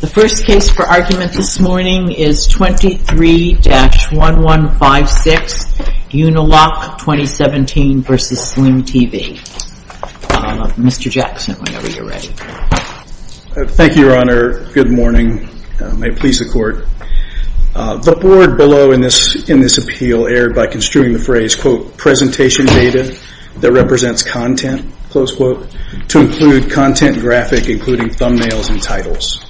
The first case for argument this morning is 23-1156, Uniloc 2017 v. Sling TV. Mr. Jackson, whenever you're ready. Thank you, Your Honor. Good morning. May it please the Court. The board below in this appeal erred by construing the phrase, quote, presentation data that represents content, close quote, to include content graphic including thumbnails and titles.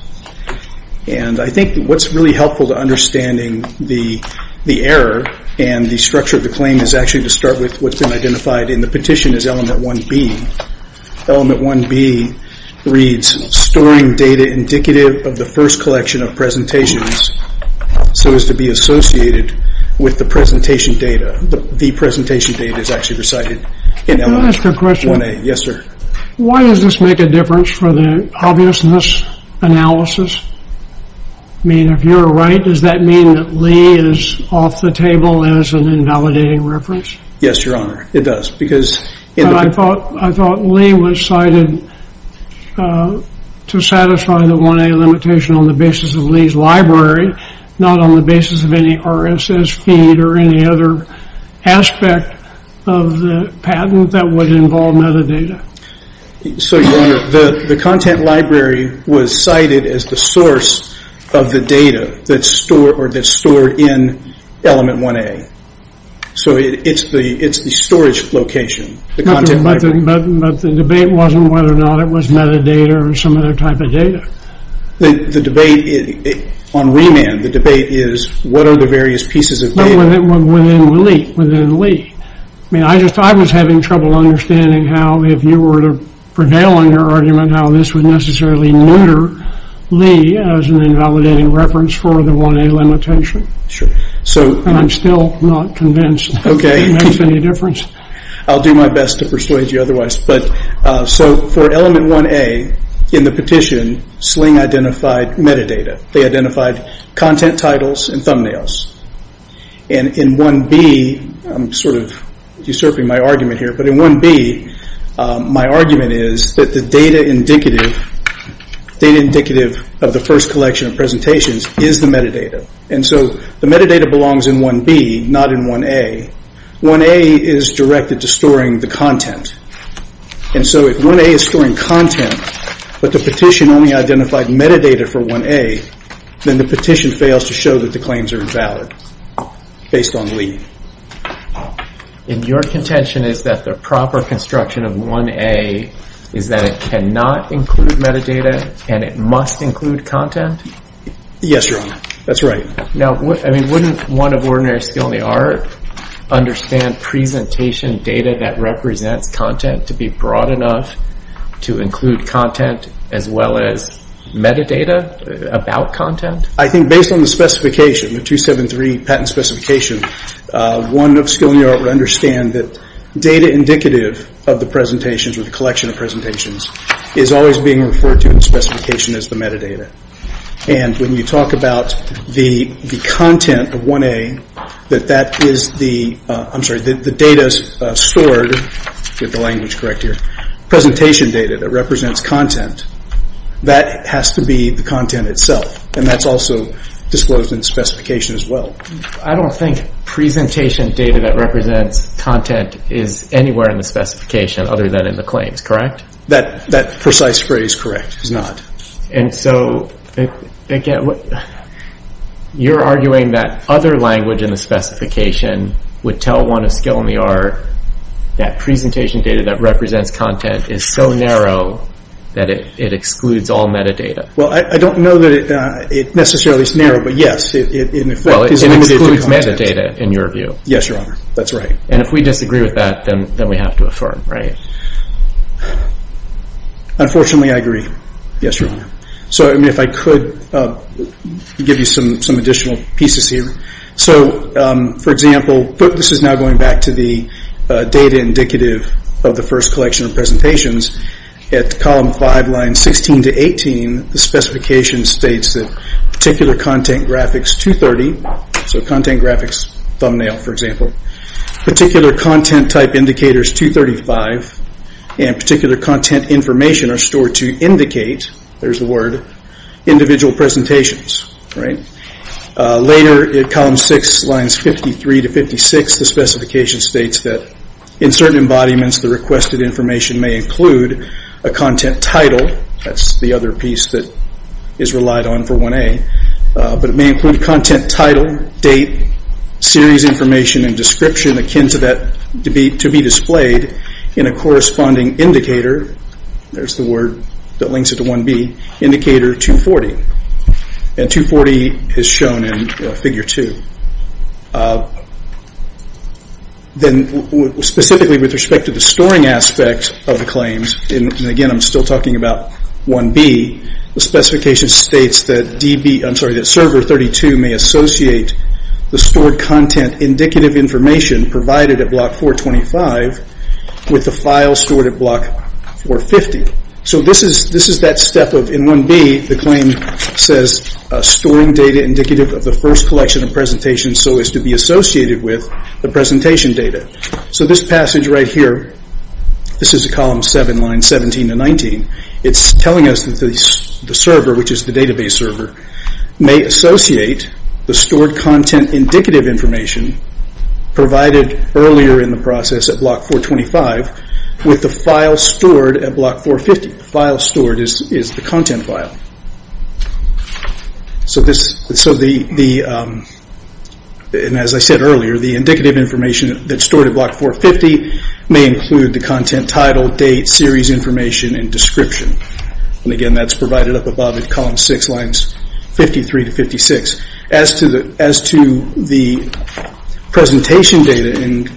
And I think what's really helpful to understanding the error and the structure of the claim is actually to start with what's been identified in the petition as element 1B. Element 1B reads, storing data indicative of the first collection of presentations so as to be associated with the presentation data. The presentation data is actually recited in element 1A. Can I ask a question? Yes, sir. Why does this make a reference for the obviousness analysis? I mean, if you're right, does that mean that Lee is off the table as an invalidating reference? Yes, Your Honor, it does. But I thought Lee was cited to satisfy the 1A limitation on the basis of Lee's library, not on the basis of any RSS feed or any other aspect of the patent that would involve metadata. So, Your Honor, the content library was cited as the source of the data that's stored in element 1A. So, it's the storage location, the content library. But the debate wasn't whether or not it was metadata or some other type of data. The debate on remand, the debate is what are the various pieces of data? Within Lee. I mean, I was having trouble understanding how, if you were to prevail on your argument, how this would necessarily neuter Lee as an invalidating reference for the 1A limitation. I'm still not convinced it makes any difference. I'll do my best to persuade you otherwise. So, for element 1A, in the petition, Sling identified metadata. They identified content titles and thumbnails. In 1B, I'm sort of My argument is that the data indicative of the first collection of presentations is the metadata. And so, the metadata belongs in 1B, not in 1A. 1A is directed to storing the content. And so, if 1A is storing content, but the petition only identified metadata for 1A, then the petition fails to show that the claims are invalid, based on Lee. And your contention is that the proper construction of 1A is that it cannot include metadata and it must include content? Yes, Your Honor. That's right. Now, wouldn't one of ordinary skill in the art understand presentation data that represents content to be broad enough to include content as well as metadata about content? I think based on the specification, the 273 patent specification, one of skill in the art would understand that data indicative of the presentations or the collection of presentations is always being referred to in specification as the metadata. And when you talk about the content of 1A, that that is the, I'm sorry, the data is stored, if the language is correct here, presentation data that represents content, that has to be the content itself. And that's also disclosed in the specification as well. I don't think presentation data that represents content is anywhere in the specification other than in the claims, correct? That precise phrase, correct, is not. And so, you're arguing that other language in the specification would tell one of skill in the art that presentation data that represents content is so narrow that it excludes all metadata? Well, I don't know that it necessarily is narrow, but yes, in effect, it excludes all Well, it excludes metadata in your view. Yes, your honor. That's right. And if we disagree with that, then we have to affirm, right? Unfortunately, I agree. Yes, your honor. So, if I could give you some additional pieces here. So, for example, this is now going back to the data indicative of the first collection of presentations. At column 5, lines 16 to 18, the specification states that particular content graphics 230, so content graphics thumbnail, for example, particular content type indicators 235, and particular content information are stored to indicate, there's the word, individual presentations, right? Later, at column 6, lines 53 to 56, the specification states that in certain embodiments, the requested information may include a content title. That's the other piece that is relied on for 1A, but it may include content title, date, series information, and description akin to that to be displayed in a corresponding indicator. There's the word that links it to 1B, indicator 240, and 240 is shown in figure 2. Then, specifically with respect to the storing aspect of the claims, and again, I'm still talking about 1B, the specification states that server 32 may associate the stored content indicative information provided at block 425 with the file stored at block 450. So, this is that step of, in 1B, the claim says, storing data indicative of the first collection of presentations so as to be associated with the presentation data. This passage right here, this is column 7, lines 17 to 19. It's telling us that the server, which is the database server, may associate the stored content indicative information provided earlier in the process at block 425 with the file stored at block 450. The file stored is the content file. As I said earlier, the indicative information that's stored at block 450 may include the content title, date, series information, and description. Again, that's provided up above in column 6, lines 53 to 56. As to the presentation data in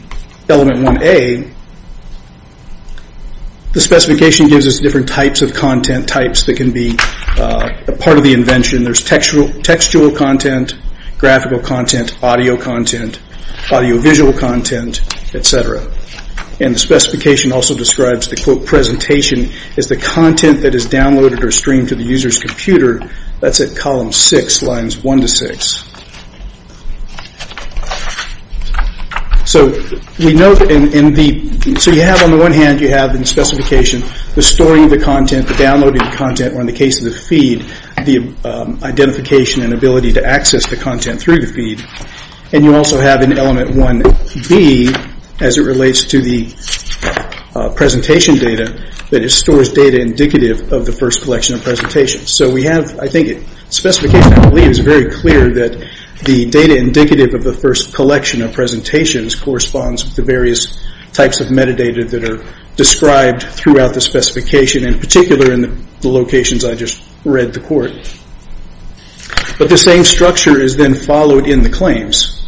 element 1A, the specification gives us different types of content types that can be a part of the invention. There's textual content, graphical content, audio content, audio-visual content, et cetera. The specification also describes the, quote, presentation as the content that is downloaded or streamed to the user's computer. That's at column 6, lines 1 to 6. On the one hand, you have in the specification the storing of the content, the downloading of the content, or in the case of the feed, the identification and ability to access the content through the feed. You also have in element 1B, as it relates to the presentation data, that it stores data indicative of the first collection of presentations. We have, I think, the specification, I believe, is very clear that the data indicative of the first collection of presentations corresponds with the various types of metadata that are described throughout the specification, in particular in the locations I just read the The same structure is then followed in the claims.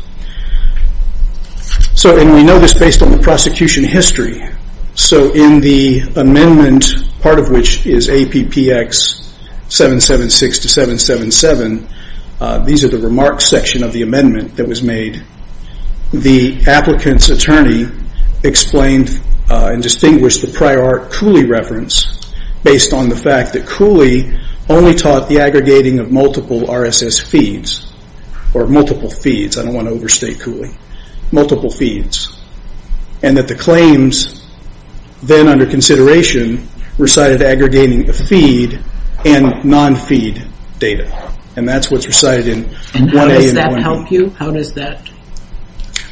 We know this based on the prosecution history. In the amendment, part of which is APPX 776 to 777, these are the remarks section of the amendment that was made. The applicant's attorney explained and distinguished the prior Cooley reference based on the fact that Cooley only taught the aggregating of multiple RSS feeds, or multiple feeds. I don't want to overstate Cooley. Multiple feeds. The claims then under consideration recited aggregating the feed and non-feed data. That's what's recited in 1A and 1B. How does that help you? How does that?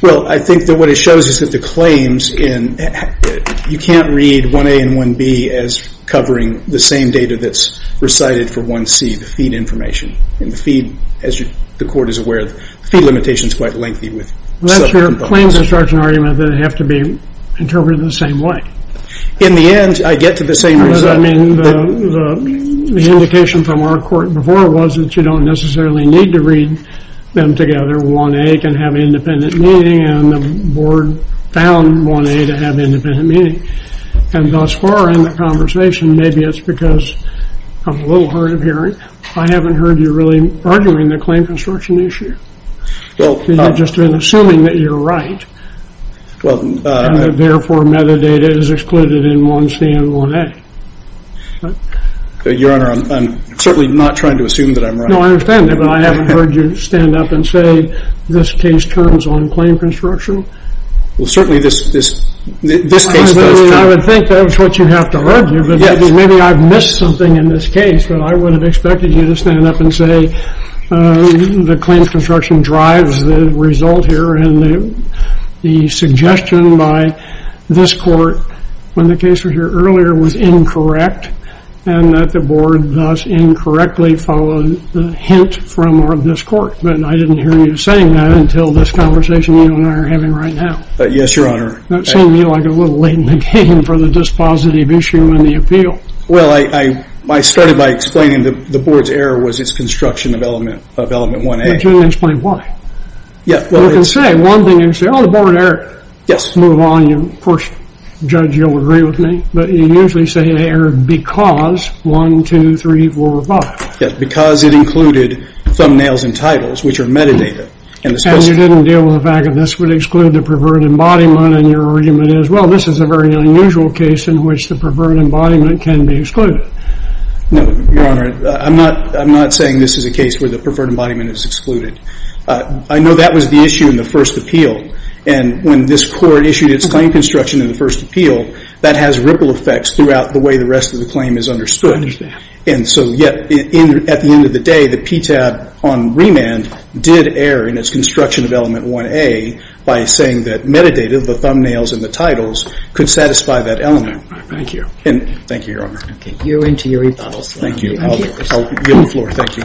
I think that what it shows is that the claims, you can't read 1A and 1B as covering the same data that's recited for 1C, the feed information. The feed, as the court is aware, the feed limitation is quite lengthy with sub-components. That's your claim construction argument that they have to be interpreted the same way. In the end, I get to the same result. I mean, the indication from our court before was that you don't necessarily need to read them together. 1A can have independent meaning and the board found 1A to have independent meaning. Thus far in the conversation, maybe it's because I'm a little hard of hearing, I haven't heard you really arguing the claim construction issue. You're just assuming that you're right. Therefore, metadata is excluded in 1C and 1A. Your Honor, I'm certainly not trying to assume that I'm right. No, I understand that, but I haven't heard you stand up and say this case turns on claim construction. Certainly, this case does turn on claim construction. I would think that's what you have to argue, but maybe I've missed something in this case. I would have expected you to stand up and say the claim construction drives the result here and the suggestion by this court when the case was heard earlier was incorrect and that the board thus incorrectly followed the hint from this court. I didn't hear you saying that until this conversation you and I are having right now. Yes, Your Honor. That seemed to me like a little late in the game for the dispositive issue and the appeal. I started by explaining that the board's error was its construction of element 1A. But you didn't explain why. Yes. You can say one thing and say, oh, the board error. Yes. Move on, and of course, Judge, you'll agree with me, but you usually say an error because 1, 2, 3, 4, 5. Because it included thumbnails and titles, which are metadata. And you didn't deal with the fact that this would exclude the preferred embodiment and your argument is, well, this is a very unusual case in which the preferred embodiment can be excluded. No, Your Honor. I'm not saying this is a case where the preferred embodiment is excluded. I know that was the issue in the first appeal. And when this court issued its claim construction in the first appeal, that has ripple effects throughout the way the rest of the claim is understood. And so yet, at the end of the day, the PTAB on remand did err in its construction of element 1A by saying that metadata, the thumbnails and the titles, could satisfy that element. Thank you. Thank you, Your Honor. Okay. You're into your rebuttals now. Thank you. I'll yield the floor. Thank you.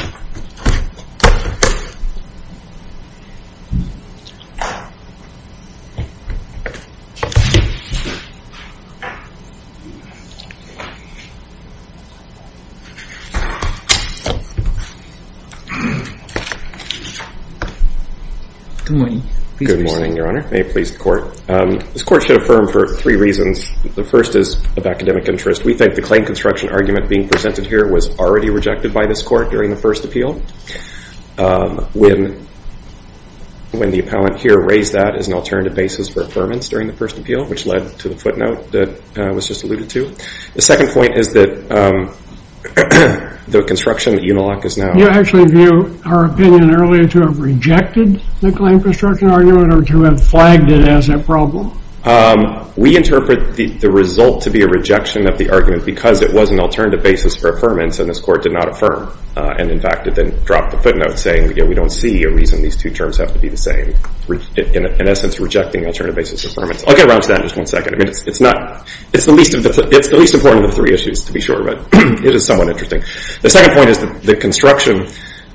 Good morning. Good morning, Your Honor. May it please the Court. This Court should affirm for three reasons. The first is of academic interest. We think the claim construction argument being presented here was already rejected by this Court during the first appeal, when the appellant here raised that as an alternative basis for affirmance during the first appeal, which led to the footnote that I was just alluded to. The second point is that the construction that Uniloc is now... You actually view our opinion earlier to have rejected the claim construction argument or to have flagged it as a problem? We interpret the result to be a rejection of the argument because it was an alternative basis for affirmance and this Court did not affirm. And, in fact, it then dropped the footnote saying we don't see a reason these two terms have to be the same. In essence, rejecting alternative basis for affirmance. I'll get around to that in just one second. It's the least important of the three issues, to be sure, but it is somewhat interesting. The second point is that the construction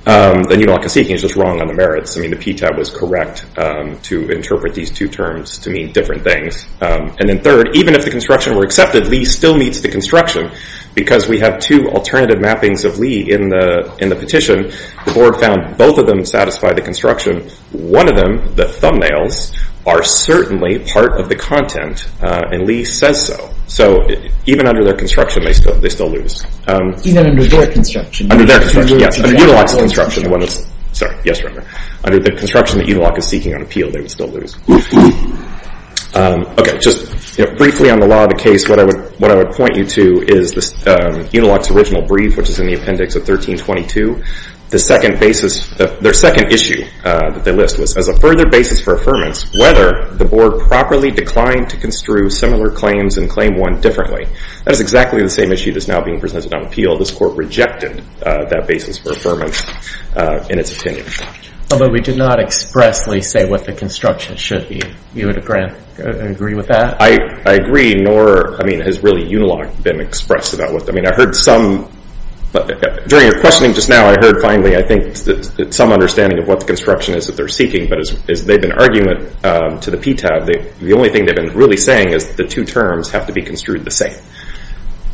that Uniloc is seeking is just wrong on the merits. The PTAB was correct to interpret these two terms to mean different things. And then third, even if the construction were accepted, Lee still needs the construction because we have two alternative mappings of Lee in the petition. The Board found both of them satisfy the construction. One of them, the thumbnails, are certainly part of the content and Lee says so. So even under their construction, they still lose. Even under their construction? Under their construction, yes. Under Uniloc's construction, the one that's... Sorry. Yes, remember. Under the construction that Uniloc is seeking on appeal, they would still lose. Okay, just briefly on the law of the case, what I would point you to is Uniloc's original brief, which is in the appendix of 1322. Their second issue that they list was, as a further basis for affirmance, whether the Board properly declined to construe similar claims and claim one differently. That is exactly the same issue that's now being presented on appeal. This Court rejected that basis for affirmance in its opinion. But we did not expressly say what the construction should be. You would agree with that? I agree, nor has really Uniloc been expressed about what... I mean, I heard some... During your questioning just now, I heard finally, I think, some understanding of what the construction is that they're seeking. But as they've been arguing to the PTAB, the only thing they've been really saying is that the two terms have to be construed the same.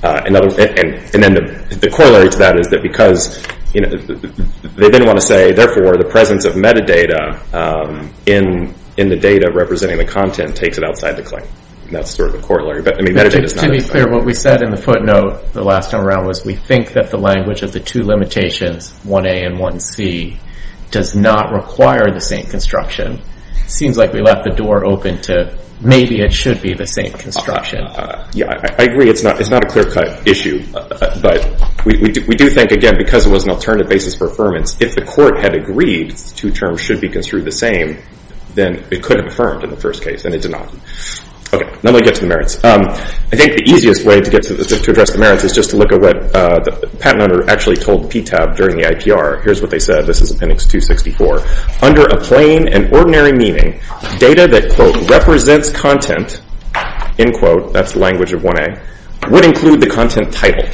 And then the corollary to that is that because they didn't want to say, therefore the presence of metadata in the data representing the content takes it outside the claim. That's sort of the corollary. To be clear, what we said in the footnote the last time around was we think that the language of the two limitations, 1A and 1C, does not require the same construction. It seems like we left the door open to maybe it should be the same construction. Yeah, I agree. It's not a clear-cut issue. But we do think, again, because it was an alternative basis for affirmance, if the Court had agreed the two terms should be construed the same, then it could have affirmed in the first case, and it did not. Okay, now let me get to the merits. I think the easiest way to address the merits is just to look at what the patent owner actually told the PTAB during the IPR. Here's what they said. This is Appendix 264. Under a plain and ordinary meaning, data that, quote, represents content, end quote, that's the language of 1A, would include the content title.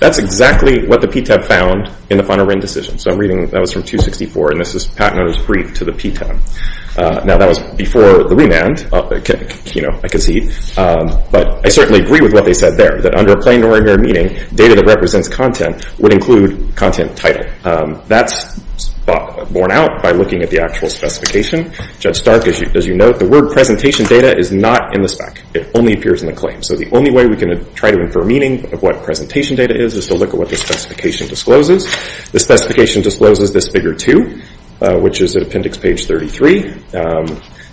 That's exactly what the PTAB found in the final written decision. So I'm reading, that was from 264, and this is the patent owner's brief to the PTAB. Now that was before the remand, you know, I concede. But I certainly agree with what they said there, that under a plain and ordinary meaning, data that represents content would include content title. That's borne out by looking at the actual specification. Judge Stark, as you note, the word presentation data is not in the spec. It only appears in the claim. So the only way we can try to infer meaning of what presentation data is is to look at what the specification discloses. The specification discloses this Figure 2, which is at Appendix Page 33.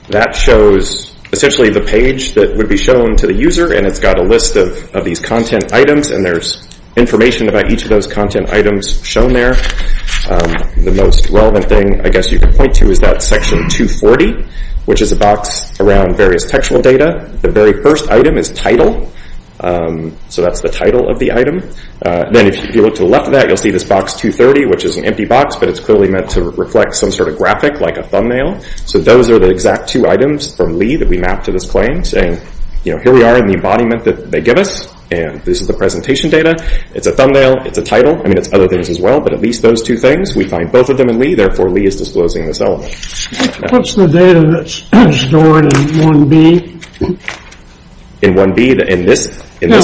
That shows essentially the page that would be shown to the user, and it's got a list of these content items, and there's information about each of those content items shown there. The most relevant thing I guess you could point to is that Section 240, which is a box around various textual data. The very first item is title. So that's the title of the item. Then if you look to the left of that, you'll see this box 230, which is an empty box, but it's clearly meant to reflect some sort of graphic, like a thumbnail. So those are the exact two items from Lee that we mapped to this claim, saying, you know, here we are in the embodiment that they give us, and this is the presentation data. It's a thumbnail. It's a title. I mean, it's other things as well, but at least those two things, we find both of them in Lee. Therefore, Lee is disclosing this element. What's the data that's stored in 1B? In 1B? In this figure?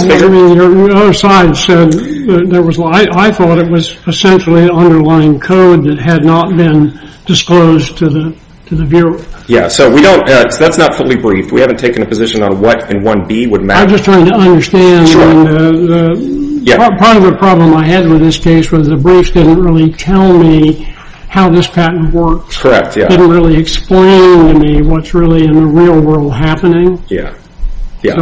I thought it was essentially an underlying code that had not been disclosed to the viewer. Yeah, so that's not fully briefed. We haven't taken a position on what in 1B would matter. I'm just trying to understand. Part of the problem I had with this case was the briefs didn't really tell me how this patent works. Correct, yeah. It didn't really explain to me what's really in the real world happening. Yeah. The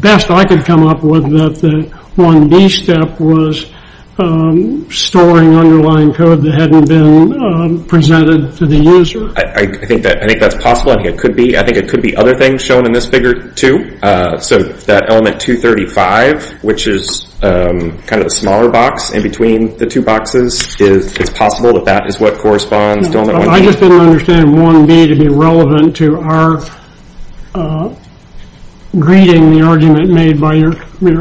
best I could come up with was that the 1B step was storing underlying code that hadn't been presented to the user. I think that's possible. I think it could be other things shown in this figure, too. So that element 235, which is kind of the smaller box in between the two boxes, it's possible that that is what corresponds to element 1B. I just didn't understand 1B to be relevant to our greeting, the argument made by your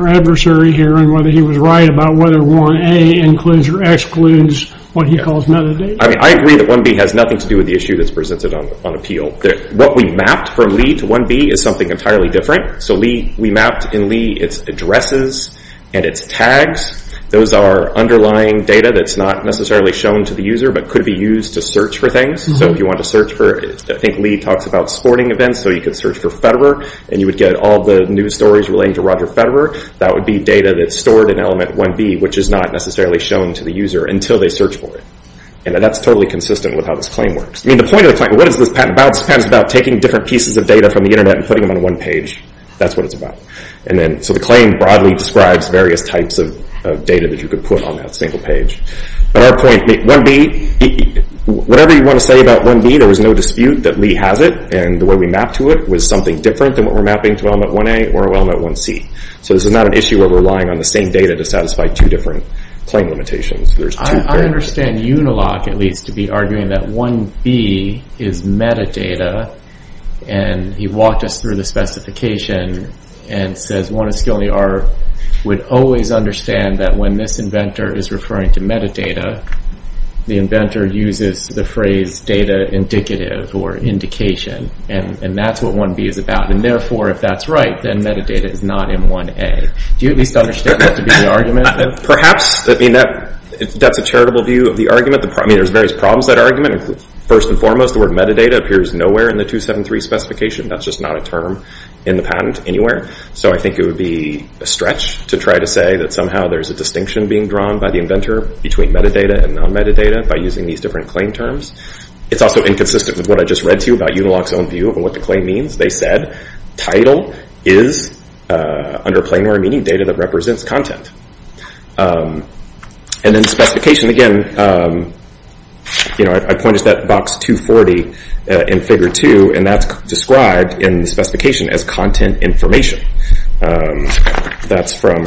adversary here, and whether he was right about whether 1A includes or excludes what he calls metadata. I agree that 1B has nothing to do with the issue that's presented on appeal. What we mapped from Lee to 1B is something entirely different. So we mapped in Lee its addresses and its tags. Those are underlying data that's not necessarily shown to the user but could be used to search for things. I think Lee talks about sporting events, so you could search for Federer and you would get all the news stories relating to Roger Federer. That would be data that's stored in element 1B, which is not necessarily shown to the user until they search for it. That's totally consistent with how this claim works. The point of the claim, what is this patent about? This patent is about taking different pieces of data from the Internet and putting them on one page. That's what it's about. So the claim broadly describes various types of data that you could put on that single page. But our point, 1B, whatever you want to say about 1B, there was no dispute that Lee has it. The way we mapped to it was something different than what we're mapping to element 1A or element 1C. So this is not an issue where we're relying on the same data to satisfy two different claim limitations. I understand Unilock, at least, to be arguing that 1B is metadata. He walked us through the specification and says, 1B would always understand that when this inventor is referring to metadata, the inventor uses the phrase data indicative or indication. That's what 1B is about. Therefore, if that's right, then metadata is not in 1A. Do you at least understand that to be the argument? Perhaps. That's a charitable view of the argument. There's various problems with that argument. First and foremost, the word metadata appears nowhere in the 273 specification. That's just not a term in the patent anywhere. So I think it would be a stretch to try to say that somehow there's a distinction being drawn by the inventor between metadata and non-metadata by using these different claim terms. It's also inconsistent with what I just read to you about Unilock's own view of what the claim means. They said title is, under planar meaning, data that represents content. Then specification, again, I pointed to that box 240 in Figure 2, and that's described in the specification as content information. That's from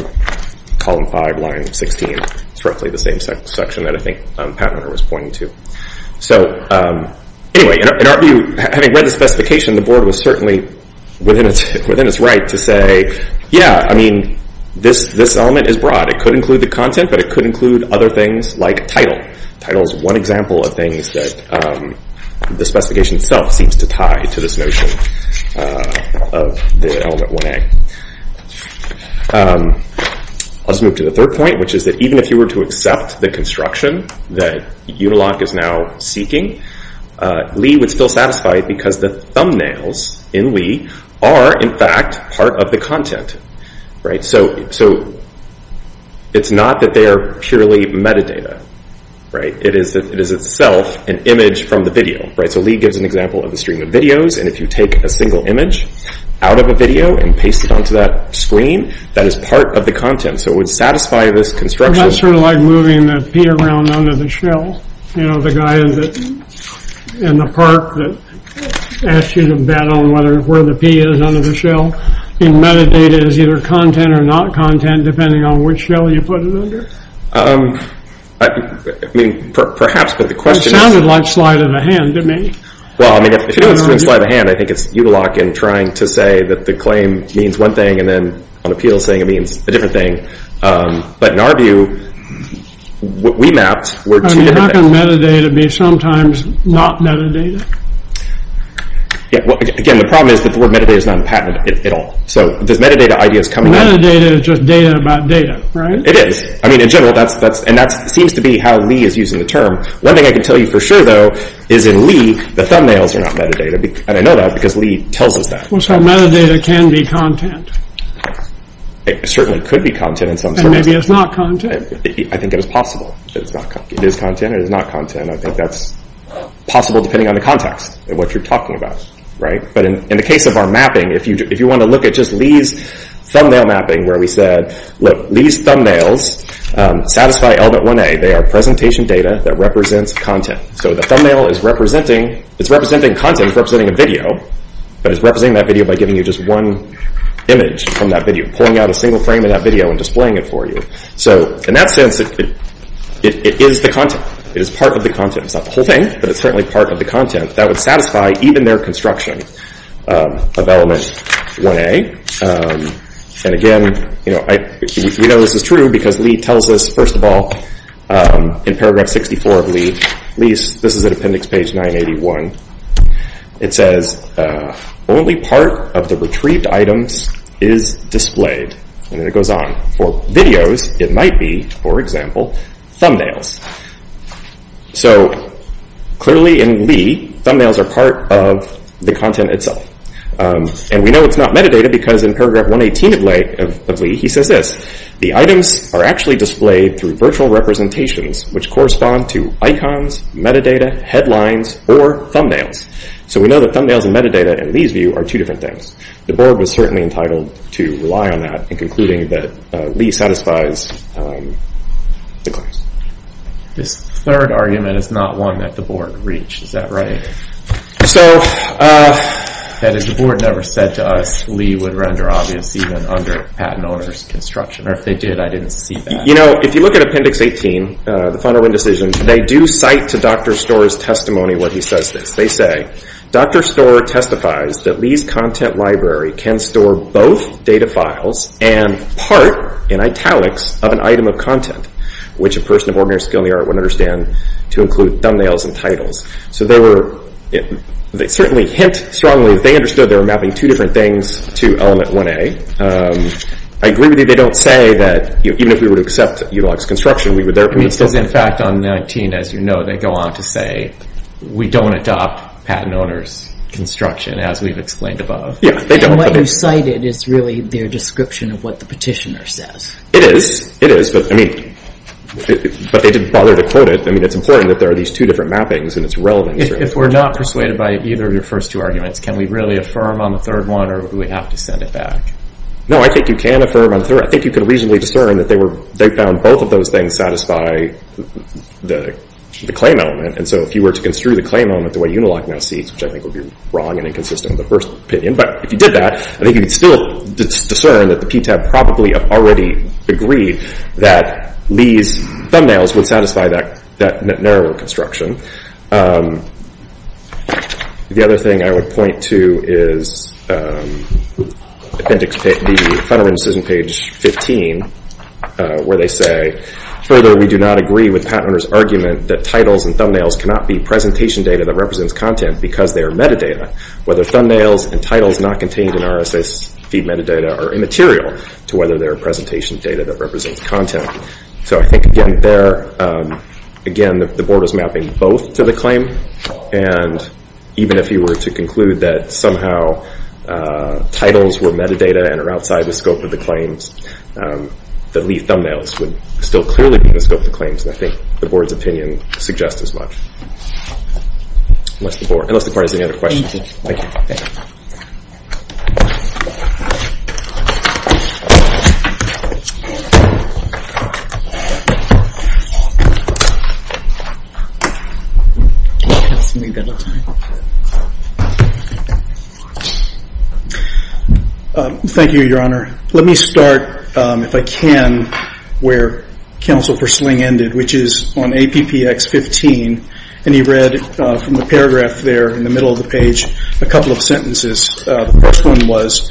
Column 5, Line 16. It's roughly the same section that I think Pat Turner was pointing to. Anyway, in our view, having read the specification, the board was certainly within its right to say, yeah, this element is broad. It could include the content, but it could include other things like title. Title is one example of things that the specification itself seems to tie to this notion of the element 1A. Let's move to the third point, which is that even if you were to accept the construction that Unilock is now seeking, Lee would still satisfy it because the thumbnails in Lee are, in fact, part of the content. So it's not that they are purely metadata. It is itself an image from the video. So Lee gives an example of a stream of videos, and if you take a single image out of a video and paste it onto that screen, that is part of the content. So it would satisfy this construction. That's sort of like moving the pea around under the shell. The guy in the park that asks you to bet on where the pea is under the shell. And metadata is either content or not content, depending on which shell you put it under? I mean, perhaps, but the question is... It sounded like slight of the hand to me. Well, I mean, if you're doing slight of the hand, I think it's Unilock in trying to say that the claim means one thing and then on appeal saying it means a different thing. But in our view, what we mapped were two different things. I mean, how can metadata be sometimes not metadata? Again, the problem is that the word metadata is not patented at all. So does metadata ideas come... Metadata is just data about data, right? It is. I mean, in general, and that seems to be how Lee is using the term. One thing I can tell you for sure, though, is in Lee, the thumbnails are not metadata. And I know that because Lee tells us that. So metadata can be content? It certainly could be content in some sense. And maybe it's not content? I think it is possible. It is content, it is not content. And I think that's possible depending on the context and what you're talking about, right? But in the case of our mapping, if you want to look at just Lee's thumbnail mapping where we said, look, Lee's thumbnails satisfy element 1A. They are presentation data that represents content. So the thumbnail is representing... It's representing content, it's representing a video, but it's representing that video by giving you just one image from that video, pulling out a single frame of that video and displaying it for you. So in that sense, it is the content. It is part of the content. It's not the whole thing, but it's certainly part of the content that would satisfy even their construction of element 1A. And again, we know this is true because Lee tells us, first of all, in paragraph 64 of Lee's, this is at appendix page 981, it says, only part of the retrieved items is displayed. And then it goes on. For videos, it might be, for example, thumbnails. So clearly in Lee, thumbnails are part of the content itself. And we know it's not metadata because in paragraph 118 of Lee, he says this. The items are actually displayed through virtual representations, which correspond to icons, metadata, headlines, or thumbnails. So we know that thumbnails and metadata, in Lee's view, are two different things. The board was certainly entitled to rely on that in concluding that Lee satisfies the clause. This third argument is not one that the board reached. Is that right? That is, the board never said to us Lee would render obvious even under patent owner's construction. Or if they did, I didn't see that. If you look at appendix 18, the final decision, they do cite to Dr. Storer's testimony what he says. They say, Dr. Storer testifies that Lee's content library can store both data files and part, in italics, of an item of content, which a person of ordinary skill in the art wouldn't understand to include thumbnails and titles. So they certainly hint strongly that they understood they were mapping two different things to element 1A. I agree with you they don't say that even if we would accept utilized construction, we would therefore... Because in fact on 19, as you know, they go on to say we don't adopt patent owner's construction, as we've explained above. And what you cited is really their description of what the petitioner says. It is, but they didn't bother to quote it. It's important that there are these two different mappings and it's relevant. If we're not persuaded by either of your first two arguments, can we really affirm on the third one, or do we have to send it back? No, I think you can affirm on the third. I think you could reasonably discern that they found both of those things satisfy the claim element. And so if you were to construe the claim element the way Unilock now sees, which I think would be wrong and inconsistent with the first opinion, but if you did that, I think you could still discern that the PTAB probably have already agreed that these thumbnails would satisfy that narrower construction. The other thing I would point to is appendix B, front of incision page 15, where they say, further we do not agree with patent owner's argument that titles and thumbnails cannot be presentation data that represents content because they are metadata, whether thumbnails and titles not contained in RSS feed metadata are immaterial to whether they are presentation data that represents content. So I think again there, again, the board is mapping both to the claim and even if you were to conclude that somehow titles were metadata and are outside the scope of the claims, the leaf thumbnails would still clearly be in the scope of the claims, and I think the board's opinion suggests as much. Unless the board has any other questions. Thank you, Your Honor. Let me start, if I can, where counsel Persling ended, which is on APPX 15, and he read from the paragraph there in the middle of the page, a couple of sentences. The first one was,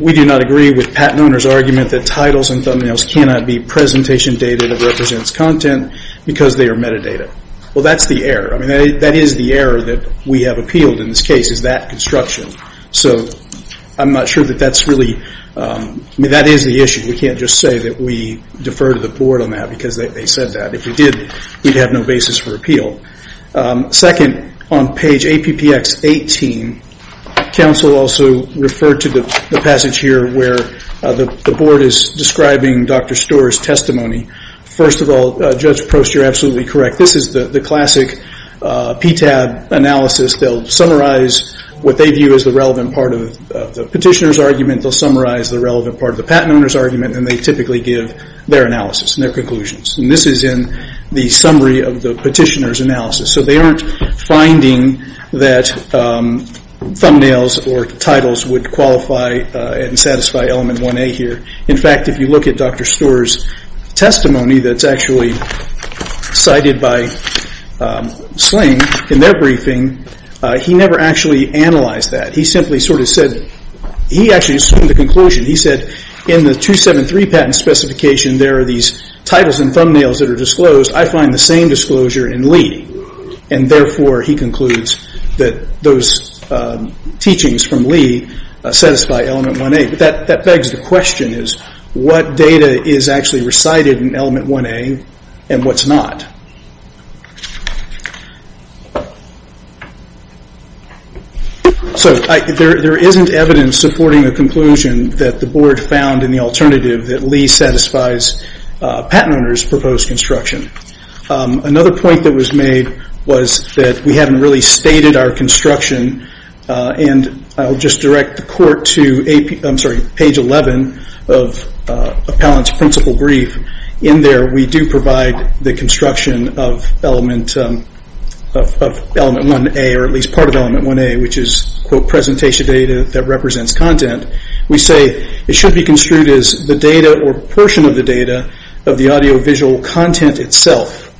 we do not agree with patent owner's argument that titles and thumbnails cannot be presentation data that represents content because they are metadata. Well, that's the error. That is the error that we have appealed in this case, is that construction. So I'm not sure that that's really, that is the issue. We can't just say that we defer to the board on that because they said that. If we did, we'd have no basis for appeal. Second, on page APPX 18, counsel also referred to the passage here where the board is describing Dr. Stewart's testimony. First of all, Judge Prost, you're absolutely correct. This is the classic PTAB analysis. They'll summarize what they view as the relevant part of the petitioner's argument. They'll summarize the relevant part of the patent owner's argument, and they typically give their analysis and their conclusions. And this is in the summary of the petitioner's analysis. So they aren't finding that thumbnails or titles would qualify and satisfy element 1A here. In fact, if you look at Dr. Stewart's testimony that's actually cited by Sling in their briefing, he never actually analyzed that. He simply sort of said, he actually assumed the conclusion. He said in the 273 patent specification there are these titles and thumbnails that are disclosed. I find the same disclosure in Lee. And therefore, he concludes that those teachings from Lee satisfy element 1A. But that begs the question is what data is actually recited in element 1A and what's not? So there isn't evidence supporting the conclusion that the board found in the alternative that Lee satisfies patent owner's proposed construction. Another point that was made was that we haven't really stated our construction. And I'll just direct the court to page 11 of Appellant's principal brief. In there we do provide the construction of element 1A or at least part of element 1A which is presentation data that represents content. We say it should be construed as the data or portion of the data of the audio visual content itself,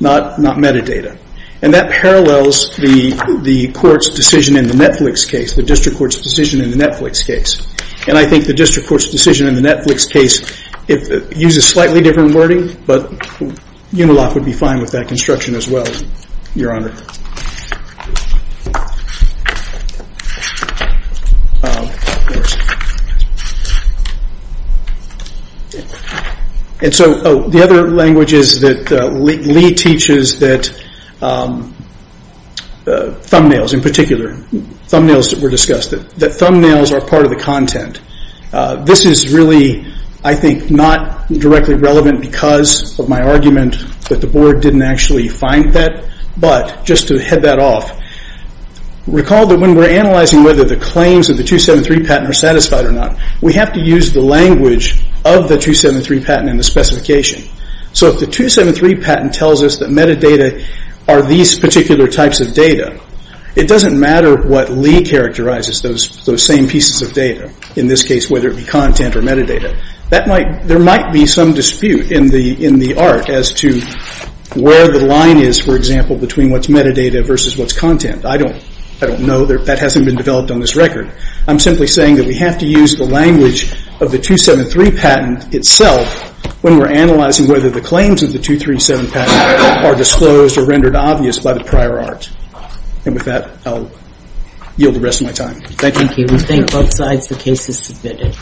not metadata. And that parallels the court's decision in the Netflix case, the district court's decision in the Netflix case. And I think the district court's decision in the Netflix case uses slightly different wording but Unilock would be fine with that construction as well, Your Honor. And so the other language is that Lee teaches that thumbnails in particular, thumbnails that were discussed, that thumbnails are part of the content. This is really, I think, not directly relevant because of my argument that the board didn't actually find that. But just to head that off, recall that when we're analyzing whether the claims of the 273 patent are satisfied or not, we have to use the language of the 273 patent and the specification. So if the 273 patent tells us that metadata are these particular types of data, it doesn't matter what Lee characterizes those same pieces of data. In this case, whether it be content or metadata. There might be some dispute in the art as to where the line is, for example, between what's metadata versus what's content. I don't know. That hasn't been developed on this record. I'm simply saying that we have to use the language of the 273 patent itself when we're analyzing whether the claims of the 237 patent are disclosed or rendered obvious by the prior art. And with that, I'll yield the rest of my time. Thank you. We thank both sides. The case is submitted.